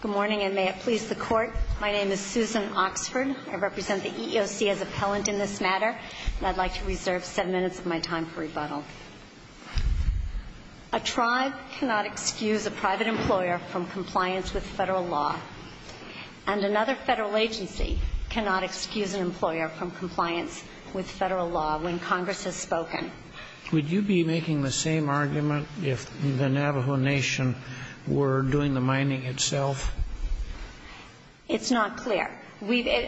Good morning, and may it please the Court. My name is Susan Oxford. I represent the EEOC as appellant in this matter, and I'd like to reserve seven minutes of my time for rebuttal. A tribe cannot excuse a private employer from compliance with federal law, and another federal agency cannot excuse an employer from compliance with federal law when Congress has spoken. Would you be making the same argument if the Navajo Nation were doing the mining itself? It's not clear.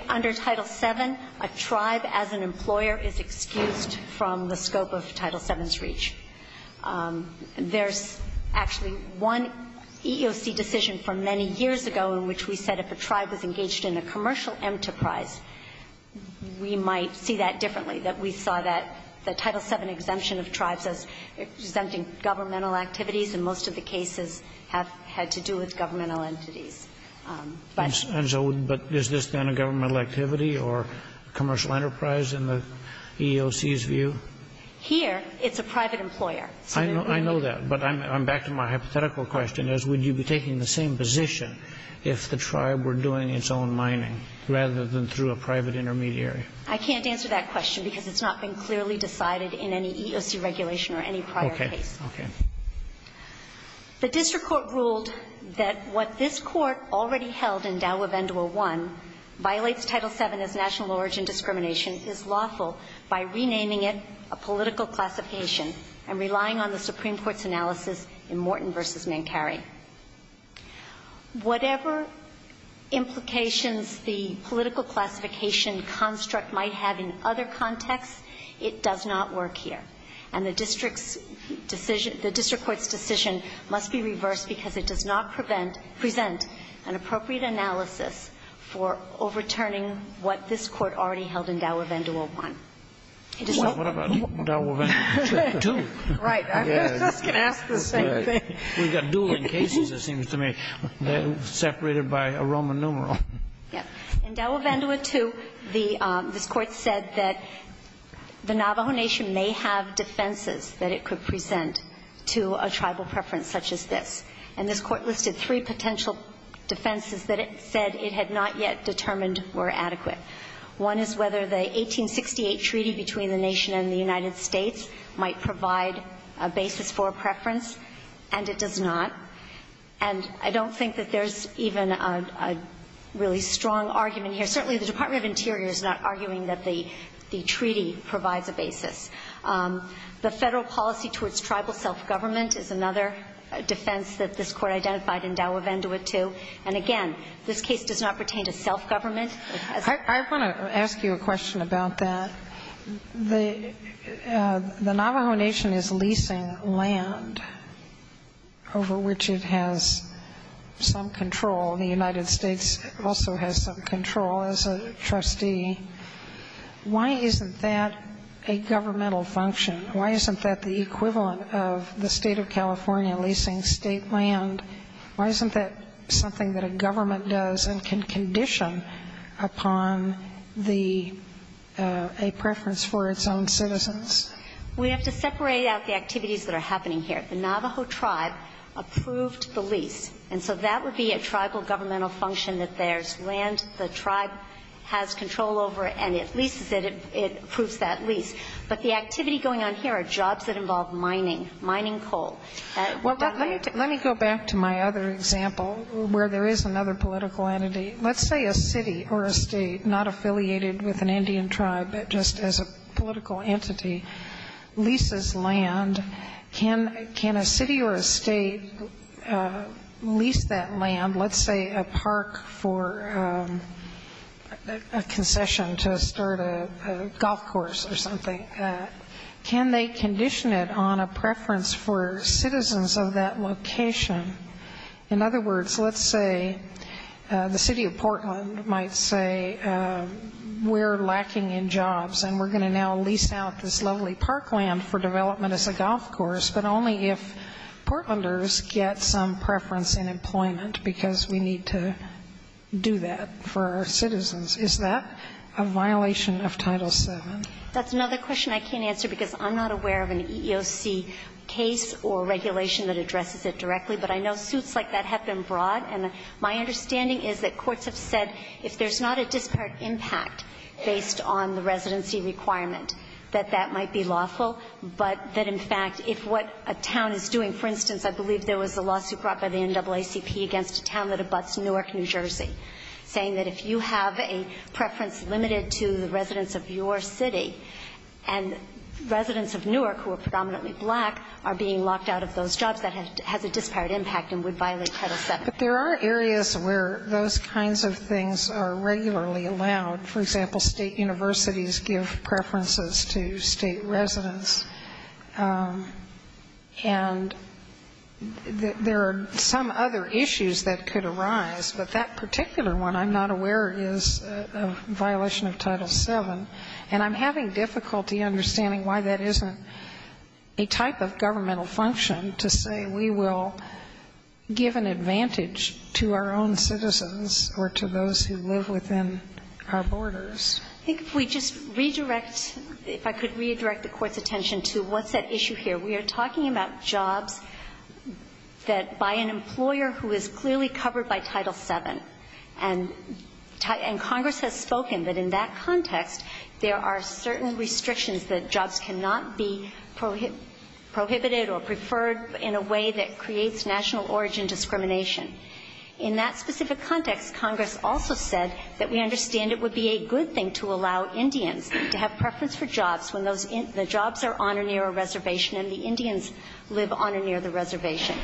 Under Title VII, a tribe as an employer is excused from the scope of Title VII's reach. There's actually one EEOC decision from many years ago in which we said if a tribe was engaged in a commercial enterprise, we might see that differently, that we saw that the Title VII exemption of tribes as exempting governmental activities, and most of the cases have had to do with governmental entities. But so is this then a governmental activity or commercial enterprise in the EEOC's view? Here, it's a private employer. I know that, but I'm back to my hypothetical question, is would you be taking the same position if the tribe were doing its own mining rather than through a private intermediary? I can't answer that question because it's not been clearly decided in any EEOC regulation or any prior case. Okay. Okay. The district court ruled that what this Court already held in Dau-Uvendua I violates Title VII as national origin discrimination, is lawful by renaming it a political classification and relying on the Supreme Court's analysis in Morton v. Mankari. Whatever implications the political classification construct might have in other contexts, it does not work here. And the district's decision, the district court's decision must be reversed because it does not prevent, present an appropriate analysis for overturning what this Court already held in Dau-Uvendua I. Well, what about Dau-Uvendua II? Right. I was just going to ask the same thing. We've got dueling cases, it seems to me, separated by a Roman numeral. Yes. In Dau-Uvendua II, this Court said that the Navajo Nation may have defenses that it could present to a tribal preference such as this. And this Court listed three potential defenses that it said it had not yet determined were adequate. One is whether the 1868 treaty between the nation and the United States might provide a basis for a preference, and it does not. And I don't think that there's even a really strong argument here. Certainly, the Department of Interior is not arguing that the treaty provides a basis. The Federal policy towards tribal self-government is another defense that this Court identified in Dau-Uvendua II. And again, this case does not pertain to self-government. I want to ask you a question about that. The Navajo Nation is leasing land over which it has some control. The United States also has some control as a trustee. Why isn't that a governmental function? Why isn't that the equivalent of the State of California leasing State land? Why isn't that something that a government does and can condition upon the – a preference for its own citizens? We have to separate out the activities that are happening here. The Navajo tribe approved the lease, and so that would be a tribal governmental function that there's land the tribe has control over and it leases it, it approves that lease. But the activity going on here are jobs that involve mining, mining coal. Well, let me go back to my other example where there is another political entity. Let's say a city or a State, not affiliated with an Indian tribe, but just as a political entity, leases land. Can a city or a State lease that land, let's say a park for a concession to start a golf course or something? Can they condition it on a preference for citizens of that location? In other words, let's say the City of Portland might say we're lacking in jobs and we're going to now lease out this lovely parkland for development as a golf course, but only if Portlanders get some preference in employment, because we need to do that for our citizens. Is that a violation of Title VII? That's another question I can't answer because I'm not aware of an EEOC case or regulation that addresses it directly, but I know suits like that have been brought. And my understanding is that courts have said if there's not a disparate impact based on the residency requirement, that that might be lawful. But that, in fact, if what a town is doing, for instance, I believe there was a lawsuit brought by the NAACP against a town that abuts Newark, New Jersey, saying that if you have a preference limited to the residents of your city and residents of Newark who are predominantly black are being locked out of those jobs, that has a disparate impact and would violate Title VII. But there are areas where those kinds of things are regularly allowed. For example, state universities give preferences to state residents. And there are some other issues that could arise, but that particular one I'm not aware is a violation of Title VII. And I'm having difficulty understanding why that isn't a type of governmental function to say we will give an advantage to our own citizens or to those who live within our borders. I think if we just redirect, if I could redirect the Court's attention to what's at issue here. We are talking about jobs that by an employer who is clearly covered by Title VII and Congress has spoken that in that context there are certain restrictions that jobs cannot be prohibited or preferred in a way that creates national origin discrimination. In that specific context, Congress also said that we understand it would be a good thing to allow Indians to have preference for jobs when the jobs are on or near a reservation and the Indians live on or near the reservation.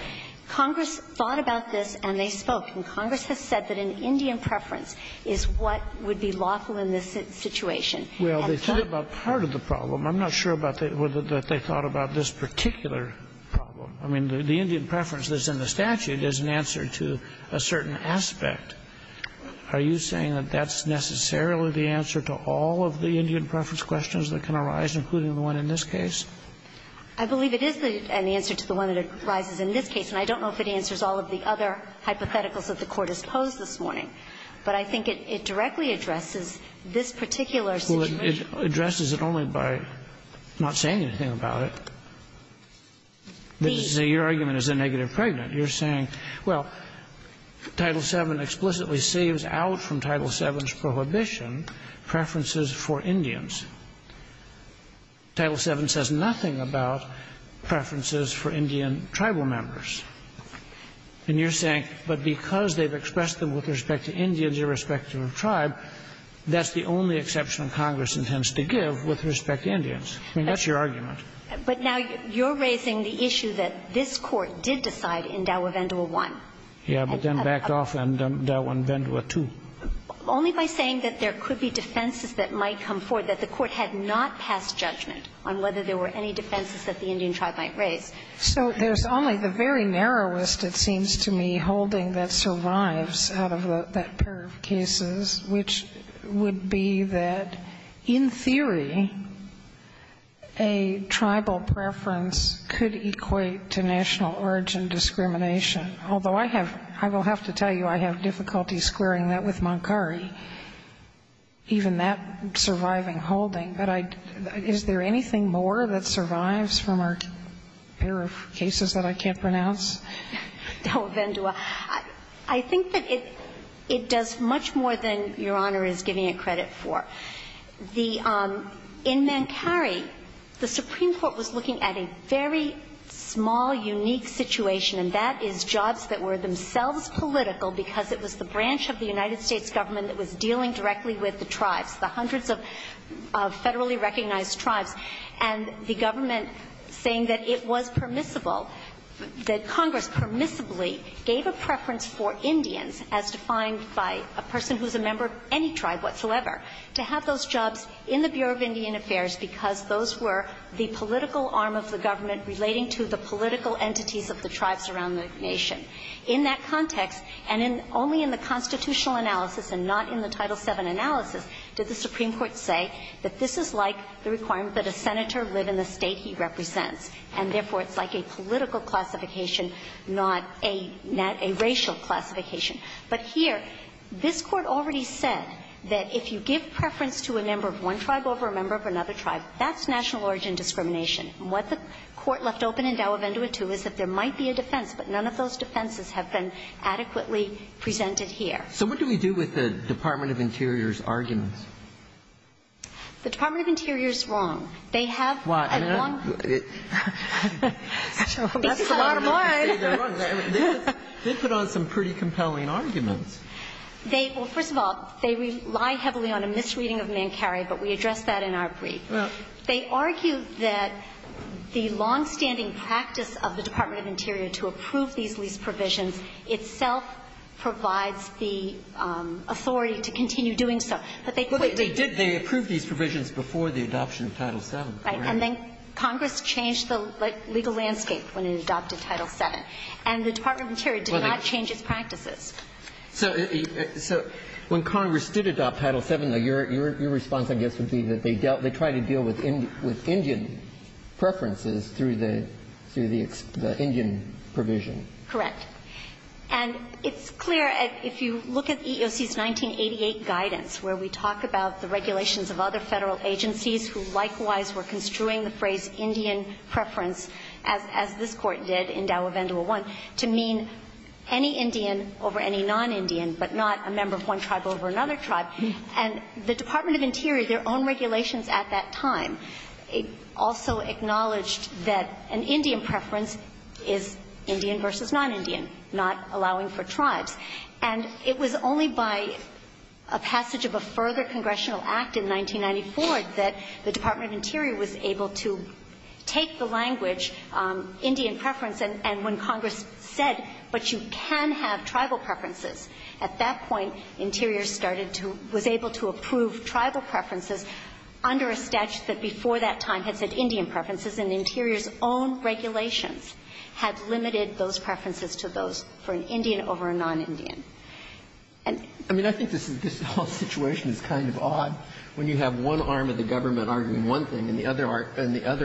Congress thought about this and they spoke. And Congress has said that an Indian preference is what would be lawful in this situation. Sotomayor Well, they thought about part of the problem. I'm not sure about whether they thought about this particular problem. I mean, the Indian preference that's in the statute is an answer to a certain aspect. Are you saying that that's necessarily the answer to all of the Indian preference questions that can arise, including the one in this case? I believe it is an answer to the one that arises in this case, and I don't know if it is the one that arises in this case, but I think it addresses the question that the Court has posed this morning. But I think it directly addresses this particular situation. Well, it addresses it only by not saying anything about it. Your argument is a negative pregnant. You're saying, well, Title VII explicitly saves out from Title VII's prohibition preferences for Indians. Title VII says nothing about preferences for Indian tribal members. And you're saying, but because they've expressed them with respect to Indians irrespective of tribe, that's the only exception Congress intends to give with respect to Indians. I mean, that's your argument. But now you're raising the issue that this Court did decide in Daua Vendua I. Yeah, but then backed off in Daua Vendua II. Only by saying that there could be defenses that might come forward, that the Court had not passed judgment on whether there were any defenses that the Indian tribe might raise. So there's only the very narrowest, it seems to me, holding that survives out of that pair of cases, which would be that in theory, a tribal preference could equate to national origin discrimination. Although I have, I will have to tell you, I have difficulty squaring that with Mankari. Even that surviving holding, but I, is there anything more that survives from our pair of cases that I can't pronounce? Daua Vendua, I think that it does much more than Your Honor is giving it credit for. The, in Mankari, the Supreme Court was looking at a very small, unique situation, and that is jobs that were themselves political, because it was the branch of the United States government that was dealing directly with the tribes, the hundreds of federally recognized tribes, and the government saying that it was permissible, that Congress permissibly gave a preference for Indians, as defined by a person who's a member of any tribe whatsoever, to have those jobs in the Bureau of Indian Affairs, because those were the political arm of the government relating to the political entities of the tribes around the nation. In that context, and in, only in the constitutional analysis and not in the Title VII analysis, did the Supreme Court say that this is like the requirement that a senator live in the state he represents, and therefore it's like a political classification, not a, not a racial classification. But here, this Court already said that if you give preference to a member of one tribe over a member of another tribe, that's national origin discrimination. And what the Court left open in Dawa Vendua too is that there might be a defense, but none of those defenses have been adequately presented here. So what do we do with the Department of Interior's arguments? The Department of Interior's wrong. They have a wrong. Why? That's a lot of money. They put on some pretty compelling arguments. They, well, first of all, they rely heavily on a misreading of Mankari, but we addressed that in our brief. They argue that the longstanding practice of the Department of Interior to approve these lease provisions itself provides the authority to continue doing so. But they quickly did. They approved these provisions before the adoption of Title VII. Right. And then Congress changed the legal landscape when it adopted Title VII. And the Department of Interior did not change its practices. So when Congress did adopt Title VII, your response, I guess, would be that they dealt, they tried to deal with Indian preferences through the Indian provision. Correct. And it's clear, if you look at EEOC's 1988 guidance, where we talk about the regulations of other Federal agencies who likewise were construing the phrase Indian preference, as this Court did in Dawa Vendua I, to mean any Indian over any non-Indian, but not a member of one tribe over another tribe. And the Department of Interior, their own regulations at that time, also acknowledged that an Indian preference is Indian versus non-Indian, not allowing for tribes. And it was only by a passage of a further congressional act in 1994 that the Department of Interior was able to take the language, Indian preference, and when Congress said, but you can have tribal preferences, at that point, Interior started to, was able to approve tribal preferences under a statute that before that time had said Indian preferences, and Interior's own regulations had limited those preferences to those for an Indian over a non-Indian. And the other thing is, this whole situation is kind of odd when you have one arm of the government arguing one thing and the other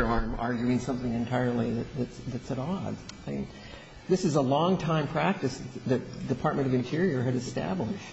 arm arguing something entirely that's at odds. I mean, this is a long-time practice that the Department of Interior had established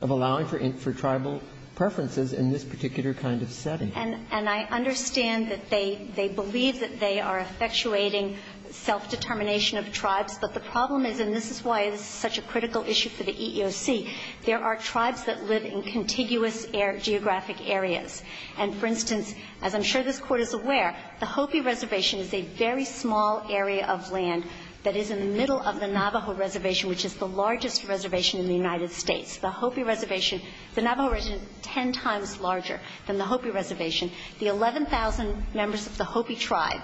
of allowing for tribal preferences in this particular kind of setting. And I understand that they believe that they are effectuating self-determination of tribes, but the problem is, and this is why this is such a critical issue for the EEOC, there are tribes that live in contiguous geographic areas. And, for instance, as I'm sure this Court is aware, the Hopi Reservation is a very small area of land that is in the middle of the Navajo Reservation, which is the largest reservation in the United States. The Hopi Reservation, the Navajo Reservation is ten times larger than the Hopi Reservation. The 11,000 members of the Hopi tribe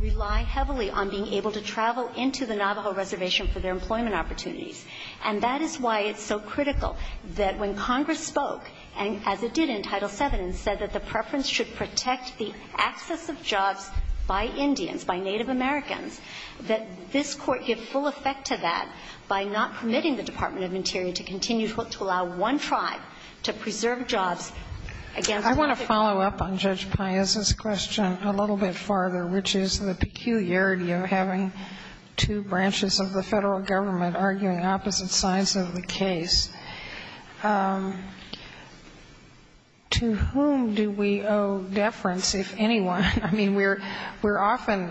rely heavily on being able to travel into the Navajo Reservation for their employment opportunities. And that is why it's so critical that when Congress spoke, as it did in Title VII, and said that the preference should protect the access of jobs by Indians, by Native Americans, that this Court give full effect to that by not permitting the Department of Interior to continue to allow one tribe to preserve jobs against another. I want to follow up on Judge Paez's question a little bit farther, which is the peculiarity of having two branches of the Federal government arguing opposite sides of the case. To whom do we owe deference, if anyone? I mean, we're often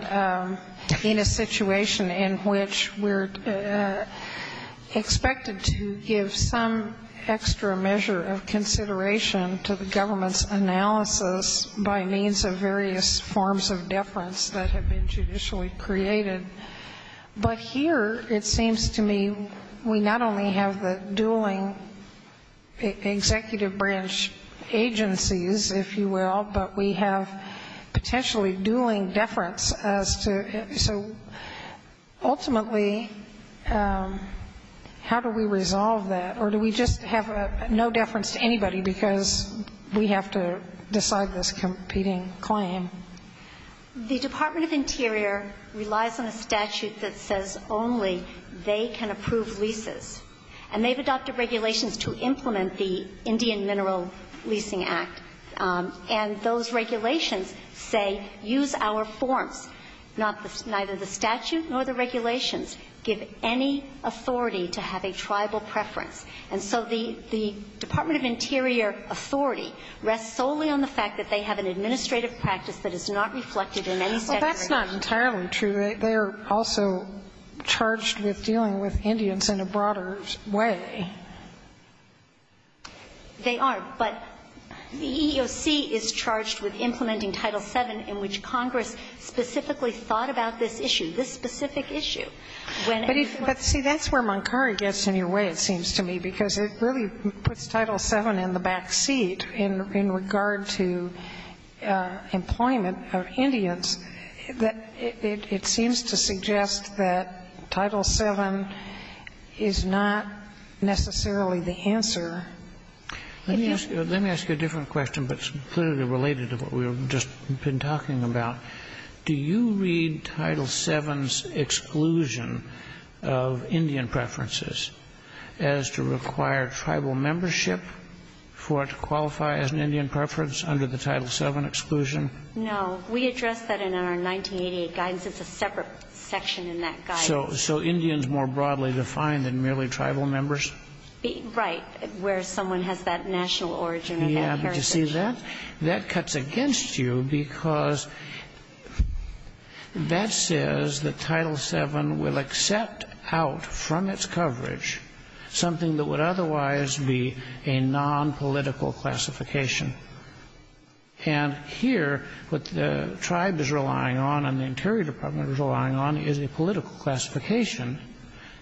in a situation in which we're expected to give some extra measure of consideration to the government's analysis by means of various forms of deference that have been judicially created. But here, it seems to me, we not only have the dueling executive branch agencies, if you will, but we have potentially dueling deference as to so ultimately how do we resolve that, or do we just have no deference to anybody because we have to decide this competing claim? The Department of Interior relies on a statute that says only they can approve leases. And they've adopted regulations to implement the Indian Mineral Leasing Act. And those regulations say, use our forms. Neither the statute nor the regulations give any authority to have a tribal preference. And so the Department of Interior authority rests solely on the fact that they have an administrative practice that is not reflected in any statute. Well, that's not entirely true. They are also charged with dealing with Indians in a broader way. They are. But the EEOC is charged with implementing Title VII in which Congress specifically thought about this issue, this specific issue. But, see, that's where Moncari gets in your way, it seems to me, because it really puts Title VII in the back seat in regard to employment of Indians, that it seems to suggest that Title VII is not necessarily the answer. Let me ask you a different question, but clearly related to what we've just been talking about. Do you read Title VII's exclusion of Indian preferences as to require tribal membership for it to qualify as an Indian preference under the Title VII exclusion? No. We addressed that in our 1988 guidance. It's a separate section in that guidance. So Indians more broadly defined than merely tribal members? Right. Where someone has that national origin and that character. Are you happy to see that? That cuts against you because that says that Title VII will accept out from its coverage something that would otherwise be a nonpolitical classification. And here what the tribe is relying on and the Interior Department is relying on is a political classification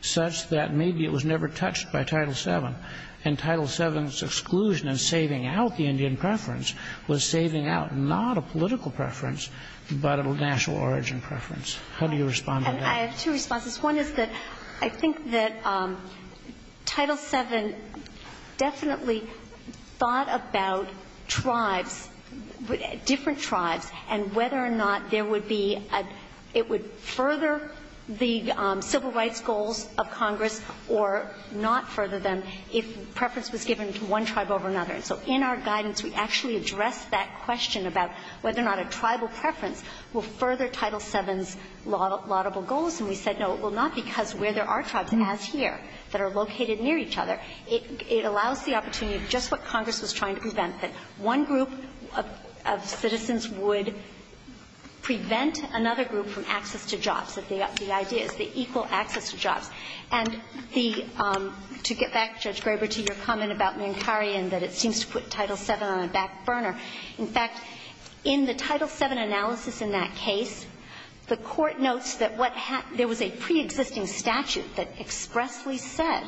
such that maybe it was never touched by Title VII. And Title VII's exclusion in saving out the Indian preference was saving out not a political preference, but a national origin preference. How do you respond to that? I have two responses. One is that I think that Title VII definitely thought about tribes, different tribes, and whether or not there would be a — it would further the civil rights goals of Congress or not further them if preference was given to one tribe over another. And so in our guidance we actually addressed that question about whether or not a tribal preference will further Title VII's laudable goals. And we said, no, it will not because where there are tribes, as here, that are located near each other. It allows the opportunity of just what Congress was trying to prevent, that one group of citizens would prevent another group from access to jobs, that the idea is the equal access to jobs. And the — to get back, Judge Graber, to your comment about Mankari and that it seems to put Title VII on a back burner. In fact, in the Title VII analysis in that case, the Court notes that what — there was a preexisting statute that expressly said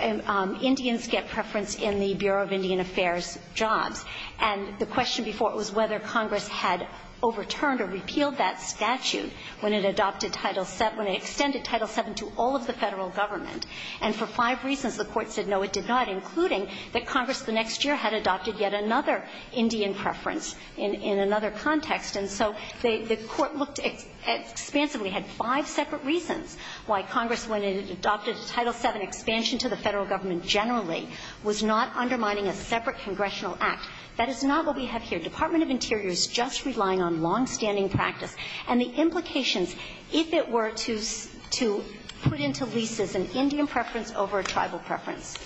Indians get preference in the Bureau of Indian Affairs jobs. And the question before it was whether Congress had overturned or repealed that statute when it adopted Title VII, when it extended Title VII to all of the Federal government. And for five reasons, the Court said, no, it did not, including that Congress the next year had adopted yet another Indian preference in another context. And so the Court looked expansively, had five separate reasons why Congress, when it adopted Title VII expansion to the Federal government generally, was not undermining a separate congressional act. That is not what we have here. Department of Interior is just relying on longstanding practice. And the implications, if it were to put into leases an Indian preference over a tribal Indian preference,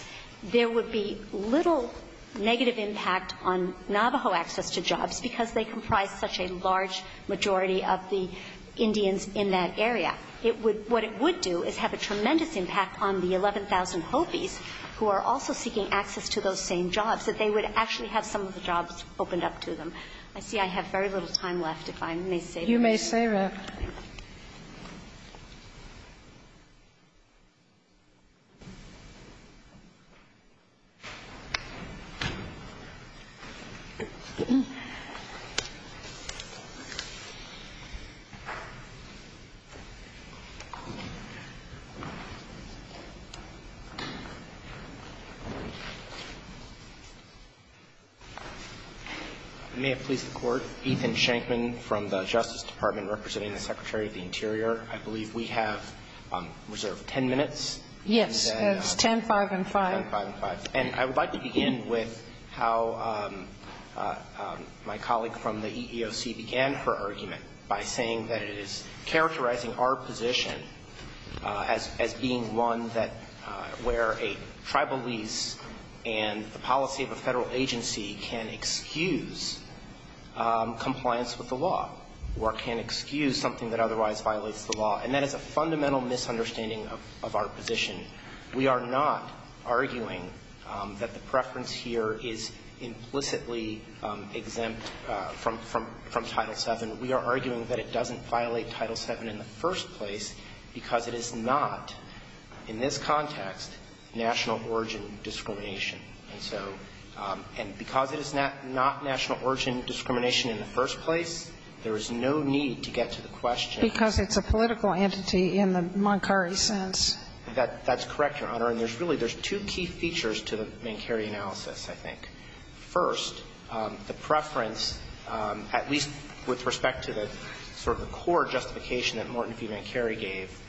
there would be little negative impact on Navajo access to jobs because they comprise such a large majority of the Indians in that area. It would — what it would do is have a tremendous impact on the 11,000 Hopis who are also seeking access to those same jobs, that they would actually have some of the jobs opened up to them. I see I have very little time left, if I may say this. May it please the Court. I believe we have reserved 10 minutes. Yes. It's 10, 5, and 5. 10, 5, and 5. And I would like to begin with how my colleague from the EEOC began her argument by saying that it is characterizing our position as being one that where a tribal lease and the policy of a Federal agency can excuse compliance with the law or can excuse something that otherwise violates the law. And that is a fundamental misunderstanding of our position. We are not arguing that the preference here is implicitly exempt from Title VII. We are arguing that it doesn't violate Title VII in the first place because it is not, in this context, national origin discrimination. And so, and because it is not national origin discrimination in the first place, there is no need to get to the question. Because it's a political entity in the Moncari sense. That's correct, Your Honor. And there's really, there's two key features to the Mancari analysis, I think. First, the preference, at least with respect to the sort of the core justification that Morton v. Mancari gave,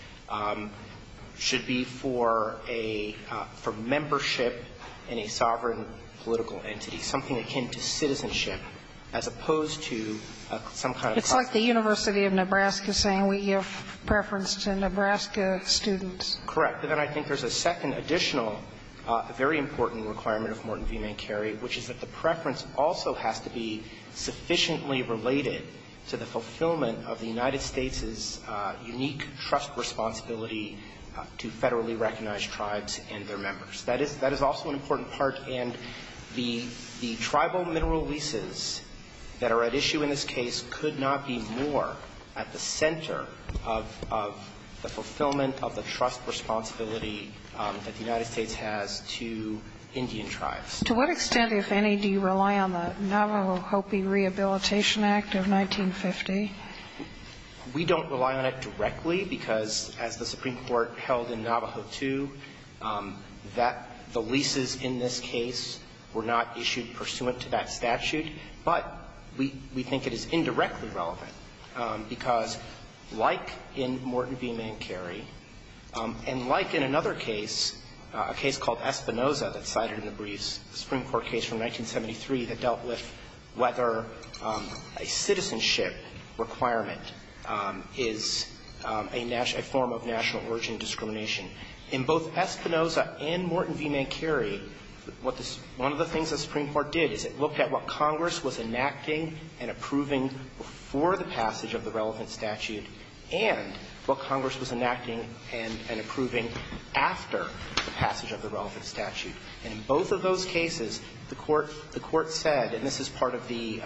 should be for a, for membership in a sovereign political entity, something akin to citizenship, as opposed to some kind of class. It's like the University of Nebraska saying we give preference to Nebraska students. Correct. But then I think there's a second additional very important requirement of Morton v. Mancari, which is that the preference also has to be sufficiently related to the fulfillment of the United States' unique trust responsibility to federally recognized tribes and their members. That is also an important part. And the tribal mineral leases that are at issue in this case could not be more at the center of the fulfillment of the trust responsibility that the United States has to Indian tribes. To what extent, if any, do you rely on the Navajo Hopi Rehabilitation Act of 1950? We don't rely on it directly because, as the Supreme Court held in Navajo II, that the leases in this case were not issued pursuant to that statute. But we think it is indirectly relevant because, like in Morton v. Mancari, and like in another case, a case called Espinoza that's cited in the briefs, a Supreme Court case from 1973 that dealt with whether a citizenship requirement is a form of national origin discrimination. In both Espinoza and Morton v. Mancari, one of the things the Supreme Court did is it looked at what Congress was enacting and approving before the passage of the relevant statute after the passage of the relevant statute. And in both of those cases, the Court said, and this is part of the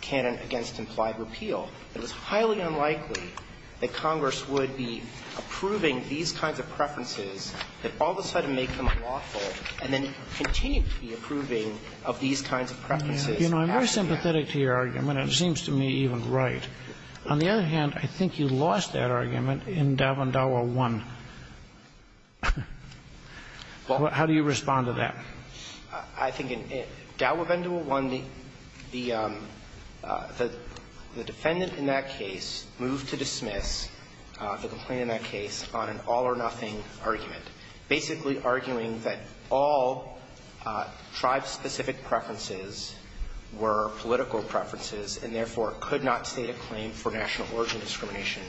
canon against implied repeal, it was highly unlikely that Congress would be approving these kinds of preferences that all of a sudden make them unlawful and then continue to be approving of these kinds of preferences. You know, I'm very sympathetic to your argument. It seems to me even right. On the other hand, I think you lost that argument in Dawa and Dawa 1. How do you respond to that? I think in Dawa and Dawa 1, the defendant in that case moved to dismiss the complaint in that case on an all-or-nothing argument, basically arguing that all tribe-specific preferences were political preferences and, therefore, could not state a claim for national origin discrimination.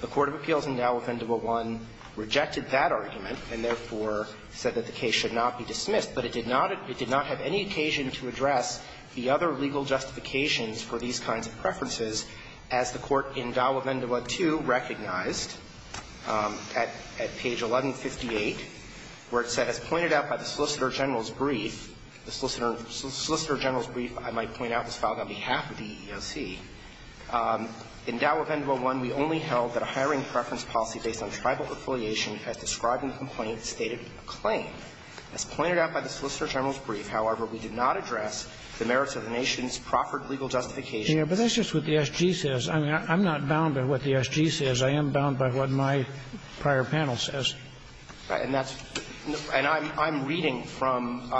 The court of appeals in Dawa and Dawa 1 rejected that argument and, therefore, said that the case should not be dismissed. But it did not have any occasion to address the other legal justifications for these kinds of preferences, as the court in Dawa and Dawa 2 recognized at page 1158, where it said, As pointed out by the Solicitor General's brief, the Solicitor General's brief, I might point out this file on behalf of the EEOC. In Dawa and Dawa 1, we only held that a hiring preference policy based on tribal affiliation as described in the complaint stated a claim. As pointed out by the Solicitor General's brief, however, we did not address the merits of the nation's proffered legal justification. But that's just what the SG says. I'm not bound by what the SG says. I am bound by what my prior panel says. And that's – and I'm reading from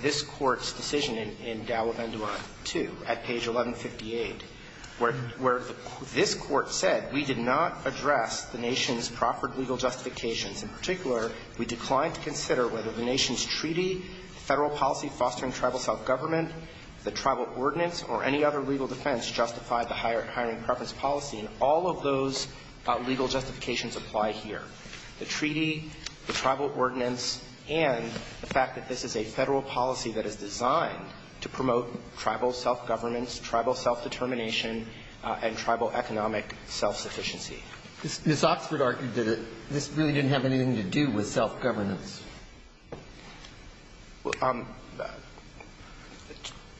this Court's decision in Dawa and Dawa 2 at page 1158, where this Court said, We did not address the nation's proffered legal justifications. In particular, we declined to consider whether the nation's treaty, Federal policy fostering tribal self-government, the tribal ordinance, or any other legal defense justified the hiring preference policy. And all of those legal justifications apply here. The treaty, the tribal ordinance, and the fact that this is a Federal policy that is designed to promote tribal self-governance, tribal self-determination, and tribal economic self-sufficiency. Ms. Oxford argued that this really didn't have anything to do with self-governance.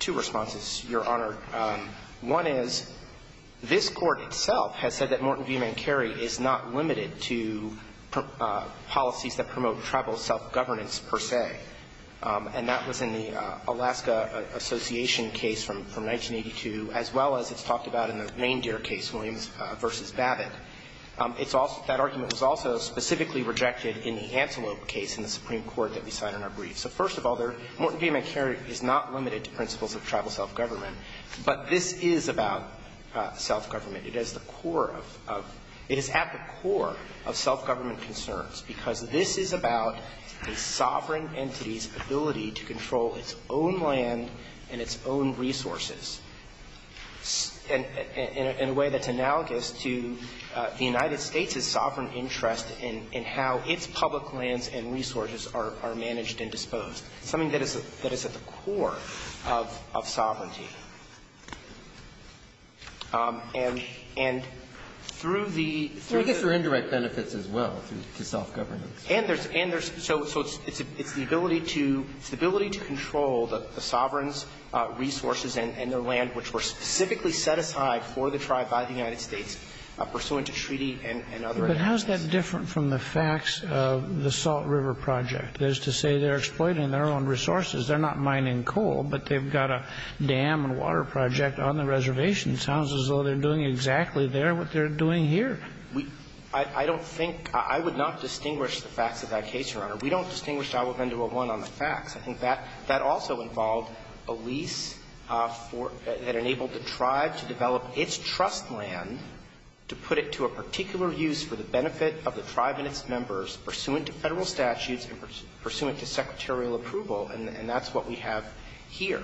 Two responses, Your Honor. One is, this Court itself has said that Morton v. Mancari is not limited to policies that promote tribal self-governance per se. And that was in the Alaska Association case from 1982, as well as it's talked about in the Reindeer case, Williams v. Babbitt. It's also – that argument was also specifically rejected in the Antelope case in the Supreme Court that we cited in our brief. So, first of all, Morton v. Mancari is not limited to principles of tribal self-government. But this is about self-government. It is the core of – it is at the core of self-government concerns, because this is about a sovereign entity's ability to control its own land and its own resources in a way that's analogous to the United States' sovereign interest in how its public lands and resources are managed and disposed, something that is at the core of sovereignty. And through the – Well, I guess there are indirect benefits as well to self-governance. And there's – and there's – so it's the ability to – it's the ability to control the sovereign's resources and their land, which were specifically set aside for the tribe by the United States pursuant to treaty and other agreements. But how is that different from the facts of the Salt River Project? That is to say, they're exploiting their own resources. They're not mining coal, but they've got a dam and water project on the reservation. It sounds as though they're doing exactly there what they're doing here. We – I don't think – I would not distinguish the facts of that case, Your Honor. We don't distinguish Agua Bendua I on the facts. I think that – that also involved a lease for – that enabled the tribe to develop its trust land to put it to a particular use for the benefit of the tribe and its members pursuant to Federal statutes and pursuant to secretarial approval. And that's what we have here.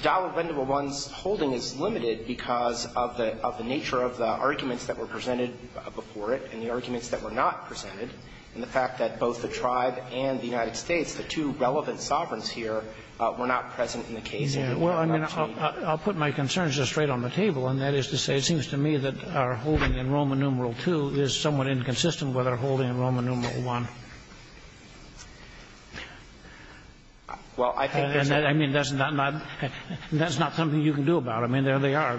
Dollar Bendua I's holding is limited because of the – of the nature of the arguments that were presented before it and the arguments that were not presented and the fact that both the tribe and the United States, the two relevant sovereigns here, were not present in the case. Well, I mean, I'll put my concerns just straight on the table, and that is to say it seems to me that our holding in Roman numeral II is somewhat inconsistent with our holding in Roman numeral I. Well, I think there's a – I mean, that's not – that's not something you can do about. I mean, there they are.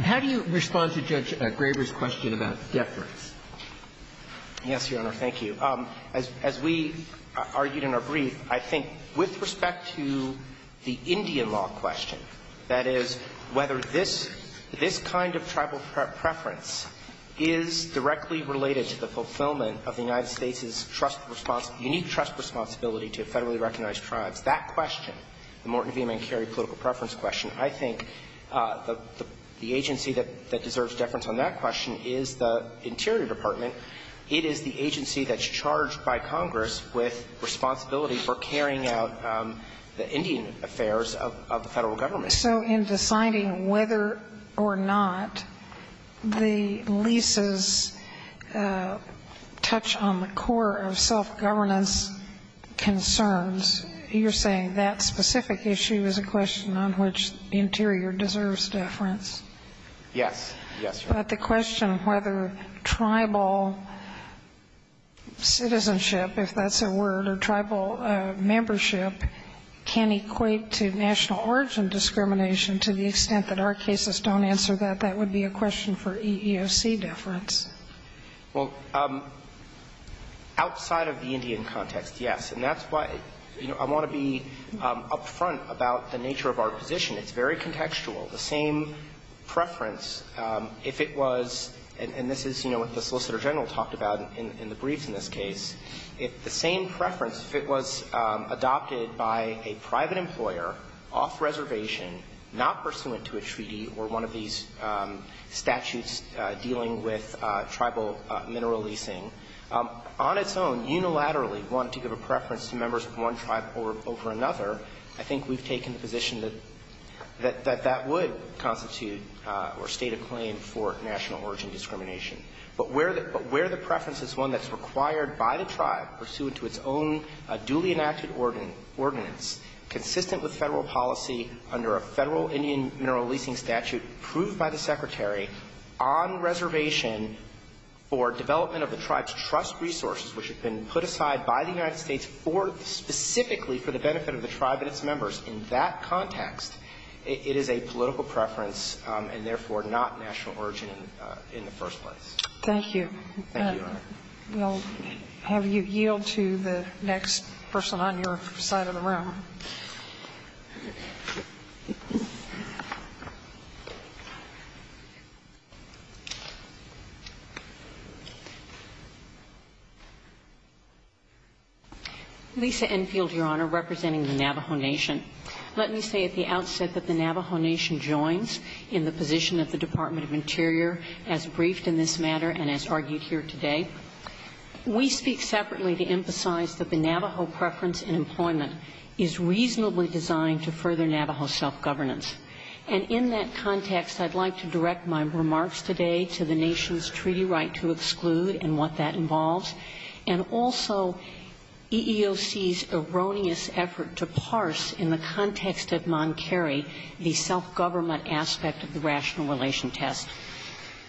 How do you respond to Judge Graber's question about deference? Yes, Your Honor. Thank you. As we argued in our brief, I think with respect to the Indian law question, that is, whether this – this kind of tribal preference is directly related to the fulfillment of the United States' trust – unique trust responsibility to federally recognized tribes, that question, the Morton v. Mancurry political preference question, I think the agency that deserves deference on that question is the Interior Department. It is the agency that's charged by Congress with responsibility for carrying out the Indian affairs of the Federal Government. So in deciding whether or not the leases touch on the core of self-governance concerns, you're saying that specific issue is a question on which the Interior deserves deference? Yes. Yes, Your Honor. But the question whether tribal citizenship, if that's a word, or tribal membership can equate to national origin discrimination, to the extent that our cases don't answer that, that would be a question for EEOC deference. Well, outside of the Indian context, yes. And that's why, you know, I want to be up front about the nature of our position. It's very contextual. The same preference, if it was – and this is, you know, what the Solicitor General talked about in the briefs in this case. If the same preference, if it was adopted by a private employer off-reservation, not pursuant to a treaty or one of these statutes dealing with tribal mineral leasing, on its own, unilaterally wanted to give a preference to members of one tribe over another, I think we've taken the position that that would constitute or state a claim for national origin discrimination. But where the preference is one that's required by the tribe, pursuant to its own duly enacted ordinance, consistent with Federal policy under a Federal Indian mineral leasing statute approved by the Secretary on reservation for development of the tribe's trust resources, which have been put aside by the United States specifically for the benefit of the tribe and its members, in that context, it is a Thank you. Thank you, Your Honor. We'll have you yield to the next person on your side of the room. Lisa Enfield, Your Honor, representing the Navajo Nation. Let me say at the outset that the Navajo Nation joins in the position of the Department of Interior as briefed in this matter and as argued here today. We speak separately to emphasize that the Navajo preference in employment is reasonably designed to further Navajo self-governance. And in that context, I'd like to direct my remarks today to the Nation's treaty right to exclude and what that involves, and also EEOC's erroneous effort to parse in the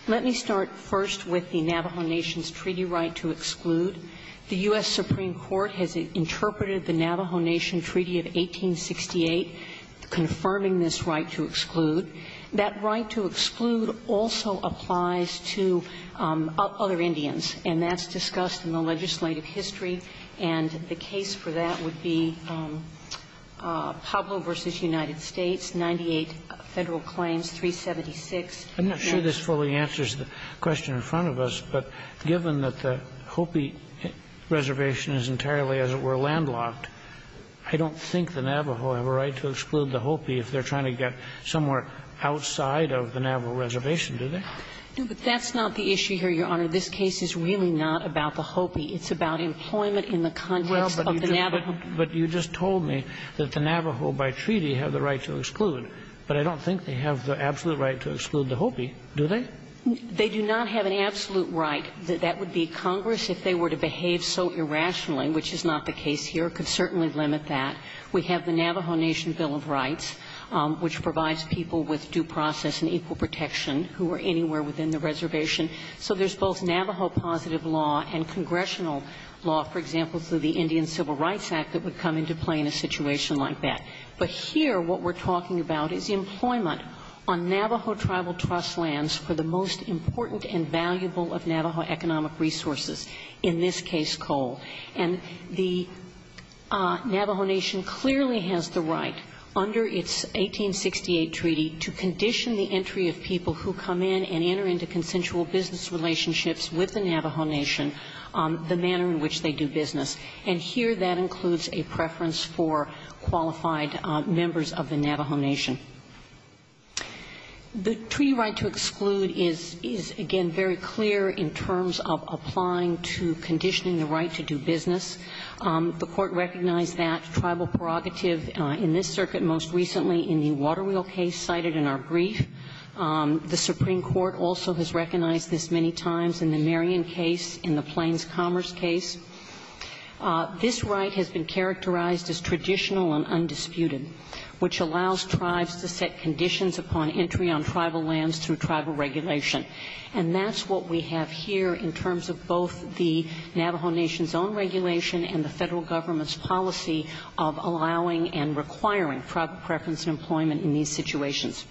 Let me start first with the Navajo Nation's treaty right to exclude. The U.S. Supreme Court has interpreted the Navajo Nation Treaty of 1868 confirming this right to exclude. That right to exclude also applies to other Indians, and that's discussed in the legislative history. And the case for that would be Pueblo v. United States, 98 Federal claims, 376 National Claims. I'm not sure this fully answers the question in front of us, but given that the Hopi reservation is entirely, as it were, landlocked, I don't think the Navajo have a right to exclude the Hopi if they're trying to get somewhere outside of the Navajo reservation, do they? No, but that's not the issue here, Your Honor. This case is really not about the Hopi. It's about employment in the context of the Navajo. Well, but you just told me that the Navajo by treaty have the right to exclude, but I don't think they have the absolute right to exclude the Hopi, do they? They do not have an absolute right. That would be Congress, if they were to behave so irrationally, which is not the case here, could certainly limit that. We have the Navajo Nation Bill of Rights, which provides people with due process and equal protection who are anywhere within the reservation. So there's both Navajo positive law and congressional law, for example, through the Indian Civil Rights Act that would come into play in a situation like that. But here what we're talking about is employment on Navajo tribal trust lands for the most important and valuable of Navajo economic resources, in this case coal. And the Navajo Nation clearly has the right, under its 1868 treaty, to condition the entry of people who come in and enter into consensual business relationships with the Navajo Nation, the manner in which they do business. And here that includes a preference for qualified members of the Navajo Nation. The treaty right to exclude is, again, very clear in terms of applying to conditioning the right to do business. The Court recognized that tribal prerogative in this circuit most recently in the Waterwheel case cited in our brief. The Supreme Court also has recognized this many times in the Marion case, in the This right has been characterized as traditional and undisputed, which allows tribes to set conditions upon entry on tribal lands through tribal regulation. And that's what we have here in terms of both the Navajo Nation's own regulation and the Federal Government's policy of allowing and requiring tribal preference and employment in these situations.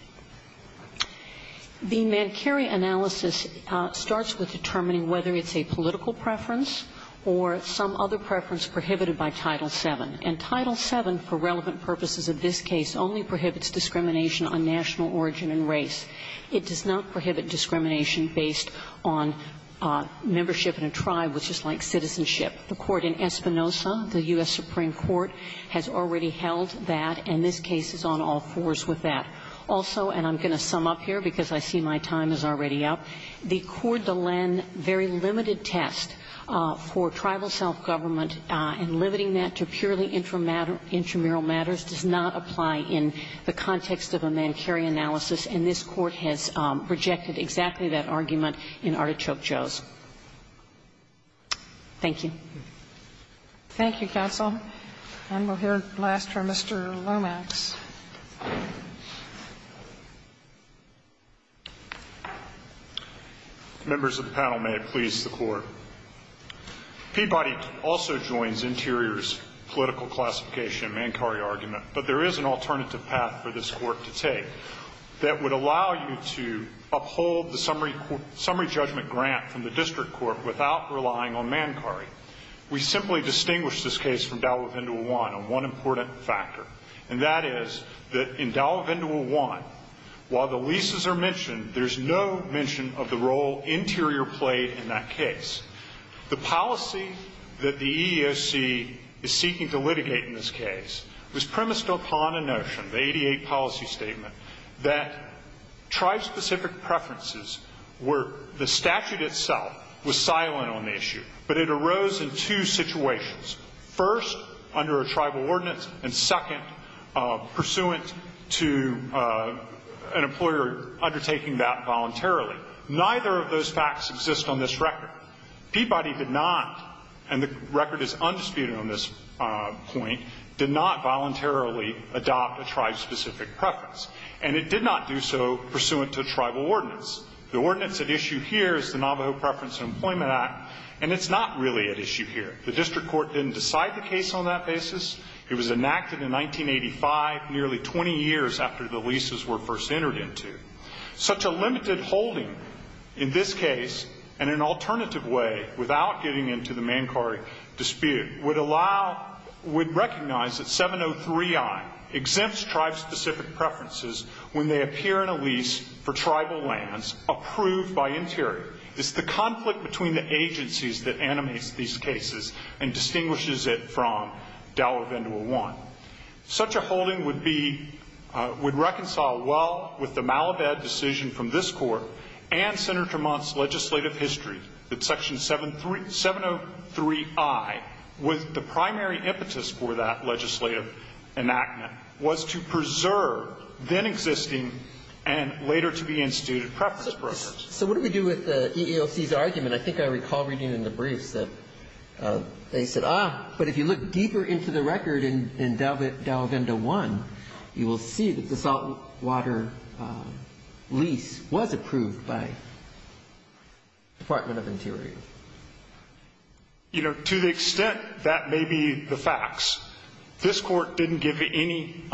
The Mancari analysis starts with determining whether it's a political preference or some other preference prohibited by Title VII. And Title VII, for relevant purposes of this case, only prohibits discrimination on national origin and race. It does not prohibit discrimination based on membership in a tribe, which is like citizenship. The court in Espinosa, the U.S. Supreme Court, has already held that, and this case is on all fours with that. Also, and I'm going to sum up here because I see my time is already up, the Corte de Len very limited test for tribal self-government and limiting that to purely intramural matters does not apply in the context of a Mancari analysis. And this Court has rejected exactly that argument in Artichoke Joe's. Thank you. Thank you, counsel. And we'll hear last from Mr. Lomax. Members of the panel, may it please the Court. Peabody also joins Interior's political classification Mancari argument, but there is an alternative path for this Court to take that would allow you to uphold the summary judgment grant from the district court without relying on Mancari. We simply distinguish this case from Davao-Hindu I on one important factor, and that is that in Davao-Hindu I, while the leases are mentioned, there's no mention of the role Interior played in that case. The policy that the EEOC is seeking to litigate in this case was premised upon a notion, the 88 policy statement, that tribe-specific preferences were the statute itself was silent on the issue, but it arose in two situations. First, under a tribal ordinance, and second, pursuant to an employer undertaking that voluntarily. Neither of those facts exist on this record. Peabody did not, and the record is undisputed on this point, did not voluntarily adopt a tribe-specific preference. And it did not do so pursuant to tribal ordinance. The ordinance at issue here is the Navajo Preference in Employment Act, and it's not really at issue here. The district court didn't decide the case on that basis. It was enacted in 1985, nearly 20 years after the leases were first entered into. Such a limited holding in this case, and in an alternative way, without getting into the Mankari dispute, would allow, would recognize that 703i exempts tribe-specific preferences when they appear in a lease for tribal lands approved by Interior. It's the conflict between the agencies that animates these cases and distinguishes it from Dallavendula I. Such a holding would be, would reconcile well with the Malabad decision from this Court and Senator Mont's legislative history that Section 703i, with the primary impetus for that legislative enactment, was to preserve then-existing and later-to-be-instituted preference brokerage. So what do we do with the EEOC's argument? I think I recall reading in the briefs that they said, ah, but if you look deeper into the record in Dallavenda I, you will see that the saltwater lease was approved by Department of Interior. You know, to the extent that may be the facts, this Court didn't give any,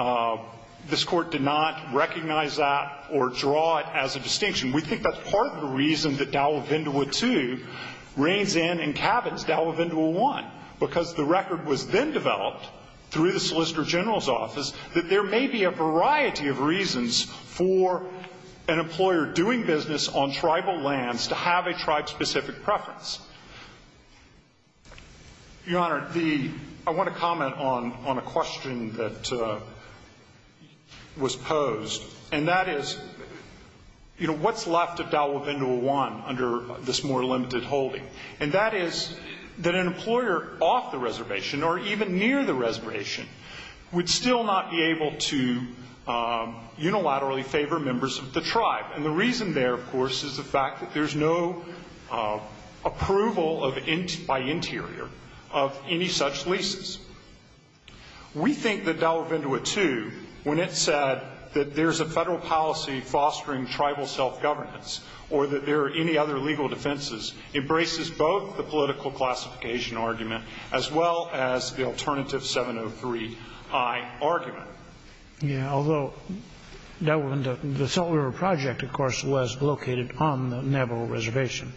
this Court did not recognize that or draw it as a distinction. We think that's part of the reason that Dallavendula II reigns in and cabins Dallavendula I, because the record was then developed through the Solicitor General's office that there may be a variety of reasons for an employer doing business on tribal lands to have a tribe-specific preference. Your Honor, the, I want to comment on a question that was posed, and that is, you know, what's left of Dallavendula I under this more limited holding? And that is that an employer off the reservation or even near the reservation would still not be able to unilaterally favor members of the tribe. And the reason there, of course, is the fact that there's no approval by Interior of any such leases. We think that Dallavendula II, when it said that there's a federal policy fostering tribal self-governance or that there are any other legal defenses, embraces both the political classification argument as well as the alternative 703i argument. Yeah. Although Dallavendula, the Salt River Project, of course, was located on the Nebo Reservation.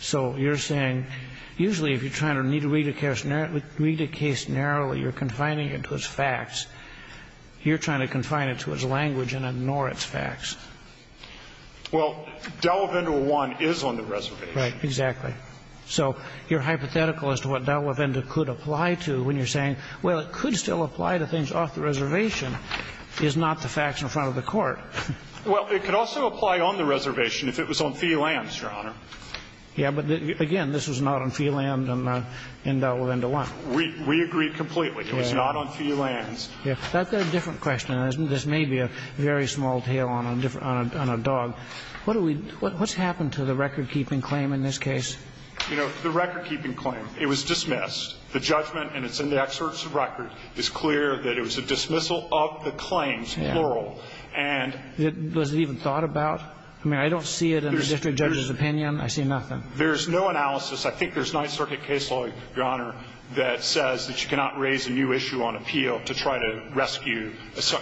So you're saying usually if you're trying to read a case narrowly, you're confining it to its facts. You're trying to confine it to its language and ignore its facts. Well, Dallavendula I is on the reservation. Right. Exactly. So your hypothetical as to what Dallavendula could apply to when you're saying, well, it could still apply to things off the reservation, is not the facts in front of the Court. Well, it could also apply on the reservation if it was on fee lands, Your Honor. Yeah. But, again, this was not on fee land in Dallavendula I. We agree completely. It was not on fee lands. Yeah. That's a different question. This may be a very small tail on a dog. What do we do? What's happened to the record-keeping claim in this case? You know, the record-keeping claim, it was dismissed. The judgment, and it's in the excerpts of record, is clear that it was a dismissal of the claims, plural. Yeah. Was it even thought about? I mean, I don't see it in the district judge's opinion. I see nothing. There's no analysis. I think there's a Ninth Circuit case law, Your Honor, that says that you cannot raise a new issue on appeal to try to rescue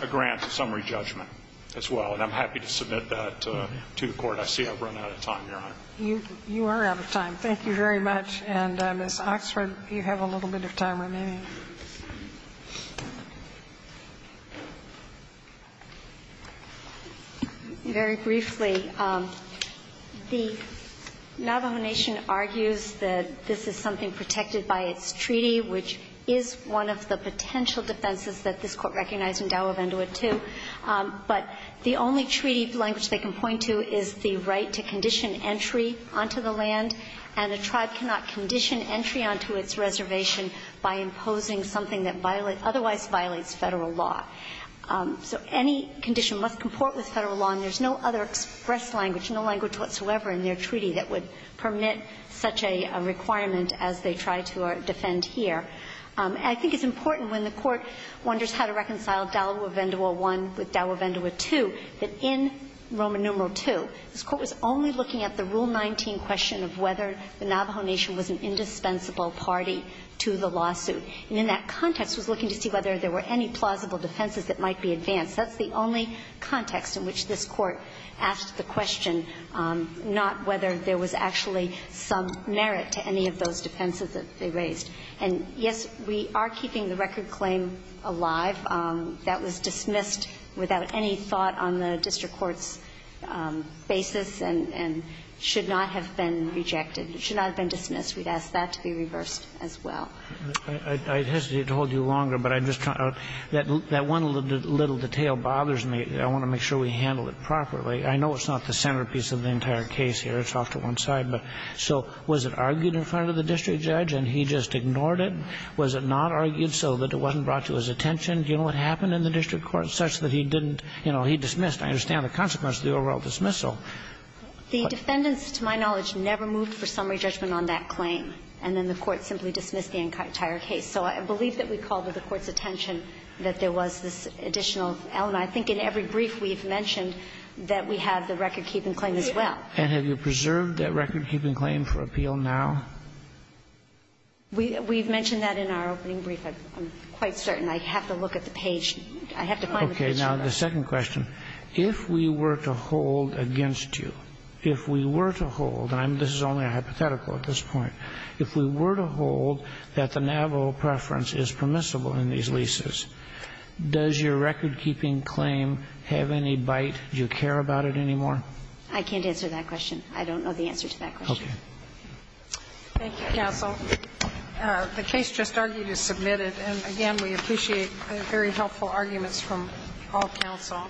a grant to summary judgment as well. And I'm happy to submit that to the Court. I see I've run out of time, Your Honor. You are out of time. Thank you very much. And, Ms. Oxford, you have a little bit of time remaining. Very briefly, the Navajo Nation argues that this is something protected by its treaty, which is one of the potential defenses that this Court recognized in Tawagandua 2. But the only treaty language they can point to is the right to condition entry onto the land, and a tribe cannot condition entry onto its reservation by imposing something that otherwise violates Federal law. So any condition must comport with Federal law, and there's no other express language, no language whatsoever in their treaty that would permit such a requirement as they try to defend here. And I think it's important when the Court wonders how to reconcile Tawagandua 1 with Tawagandua 2, that in Roman numeral 2, this Court was only looking at the Rule 19 question of whether the Navajo Nation was an indispensable party to the lawsuit. And in that context, it was looking to see whether there were any plausible defenses that might be advanced. That's the only context in which this Court asked the question, not whether there was actually some merit to any of those defenses that they raised. And, yes, we are keeping the record claim alive. That was dismissed without any thought on the district court's basis and should not have been rejected. It should not have been dismissed. We'd ask that to be reversed as well. I hesitate to hold you longer, but I'm just trying to – that one little detail bothers me. I want to make sure we handle it properly. I know it's not the centerpiece of the entire case here. It's off to one side. But so was it argued in front of the district judge and he just ignored it? Was it not argued so that it wasn't brought to his attention? Do you know what happened in the district court such that he didn't, you know, he dismissed? I understand the consequence of the overall dismissal. The defendants, to my knowledge, never moved for summary judgment on that claim. And then the court simply dismissed the entire case. So I believe that we called to the court's attention that there was this additional element. I think in every brief we've mentioned that we have the record-keeping claim as well. And have you preserved that record-keeping claim for appeal now? We've mentioned that in our opening brief. I'm quite certain. I have to look at the page. I have to find the picture of that. Okay. Now, the second question. If we were to hold against you, if we were to hold, and this is only a hypothetical at this point, if we were to hold that the Navajo preference is permissible in these leases, does your record-keeping claim have any bite? Do you care about it anymore? I can't answer that question. I don't know the answer to that question. Okay. Thank you, counsel. The case just argued is submitted. And, again, we appreciate the very helpful arguments from all counsel.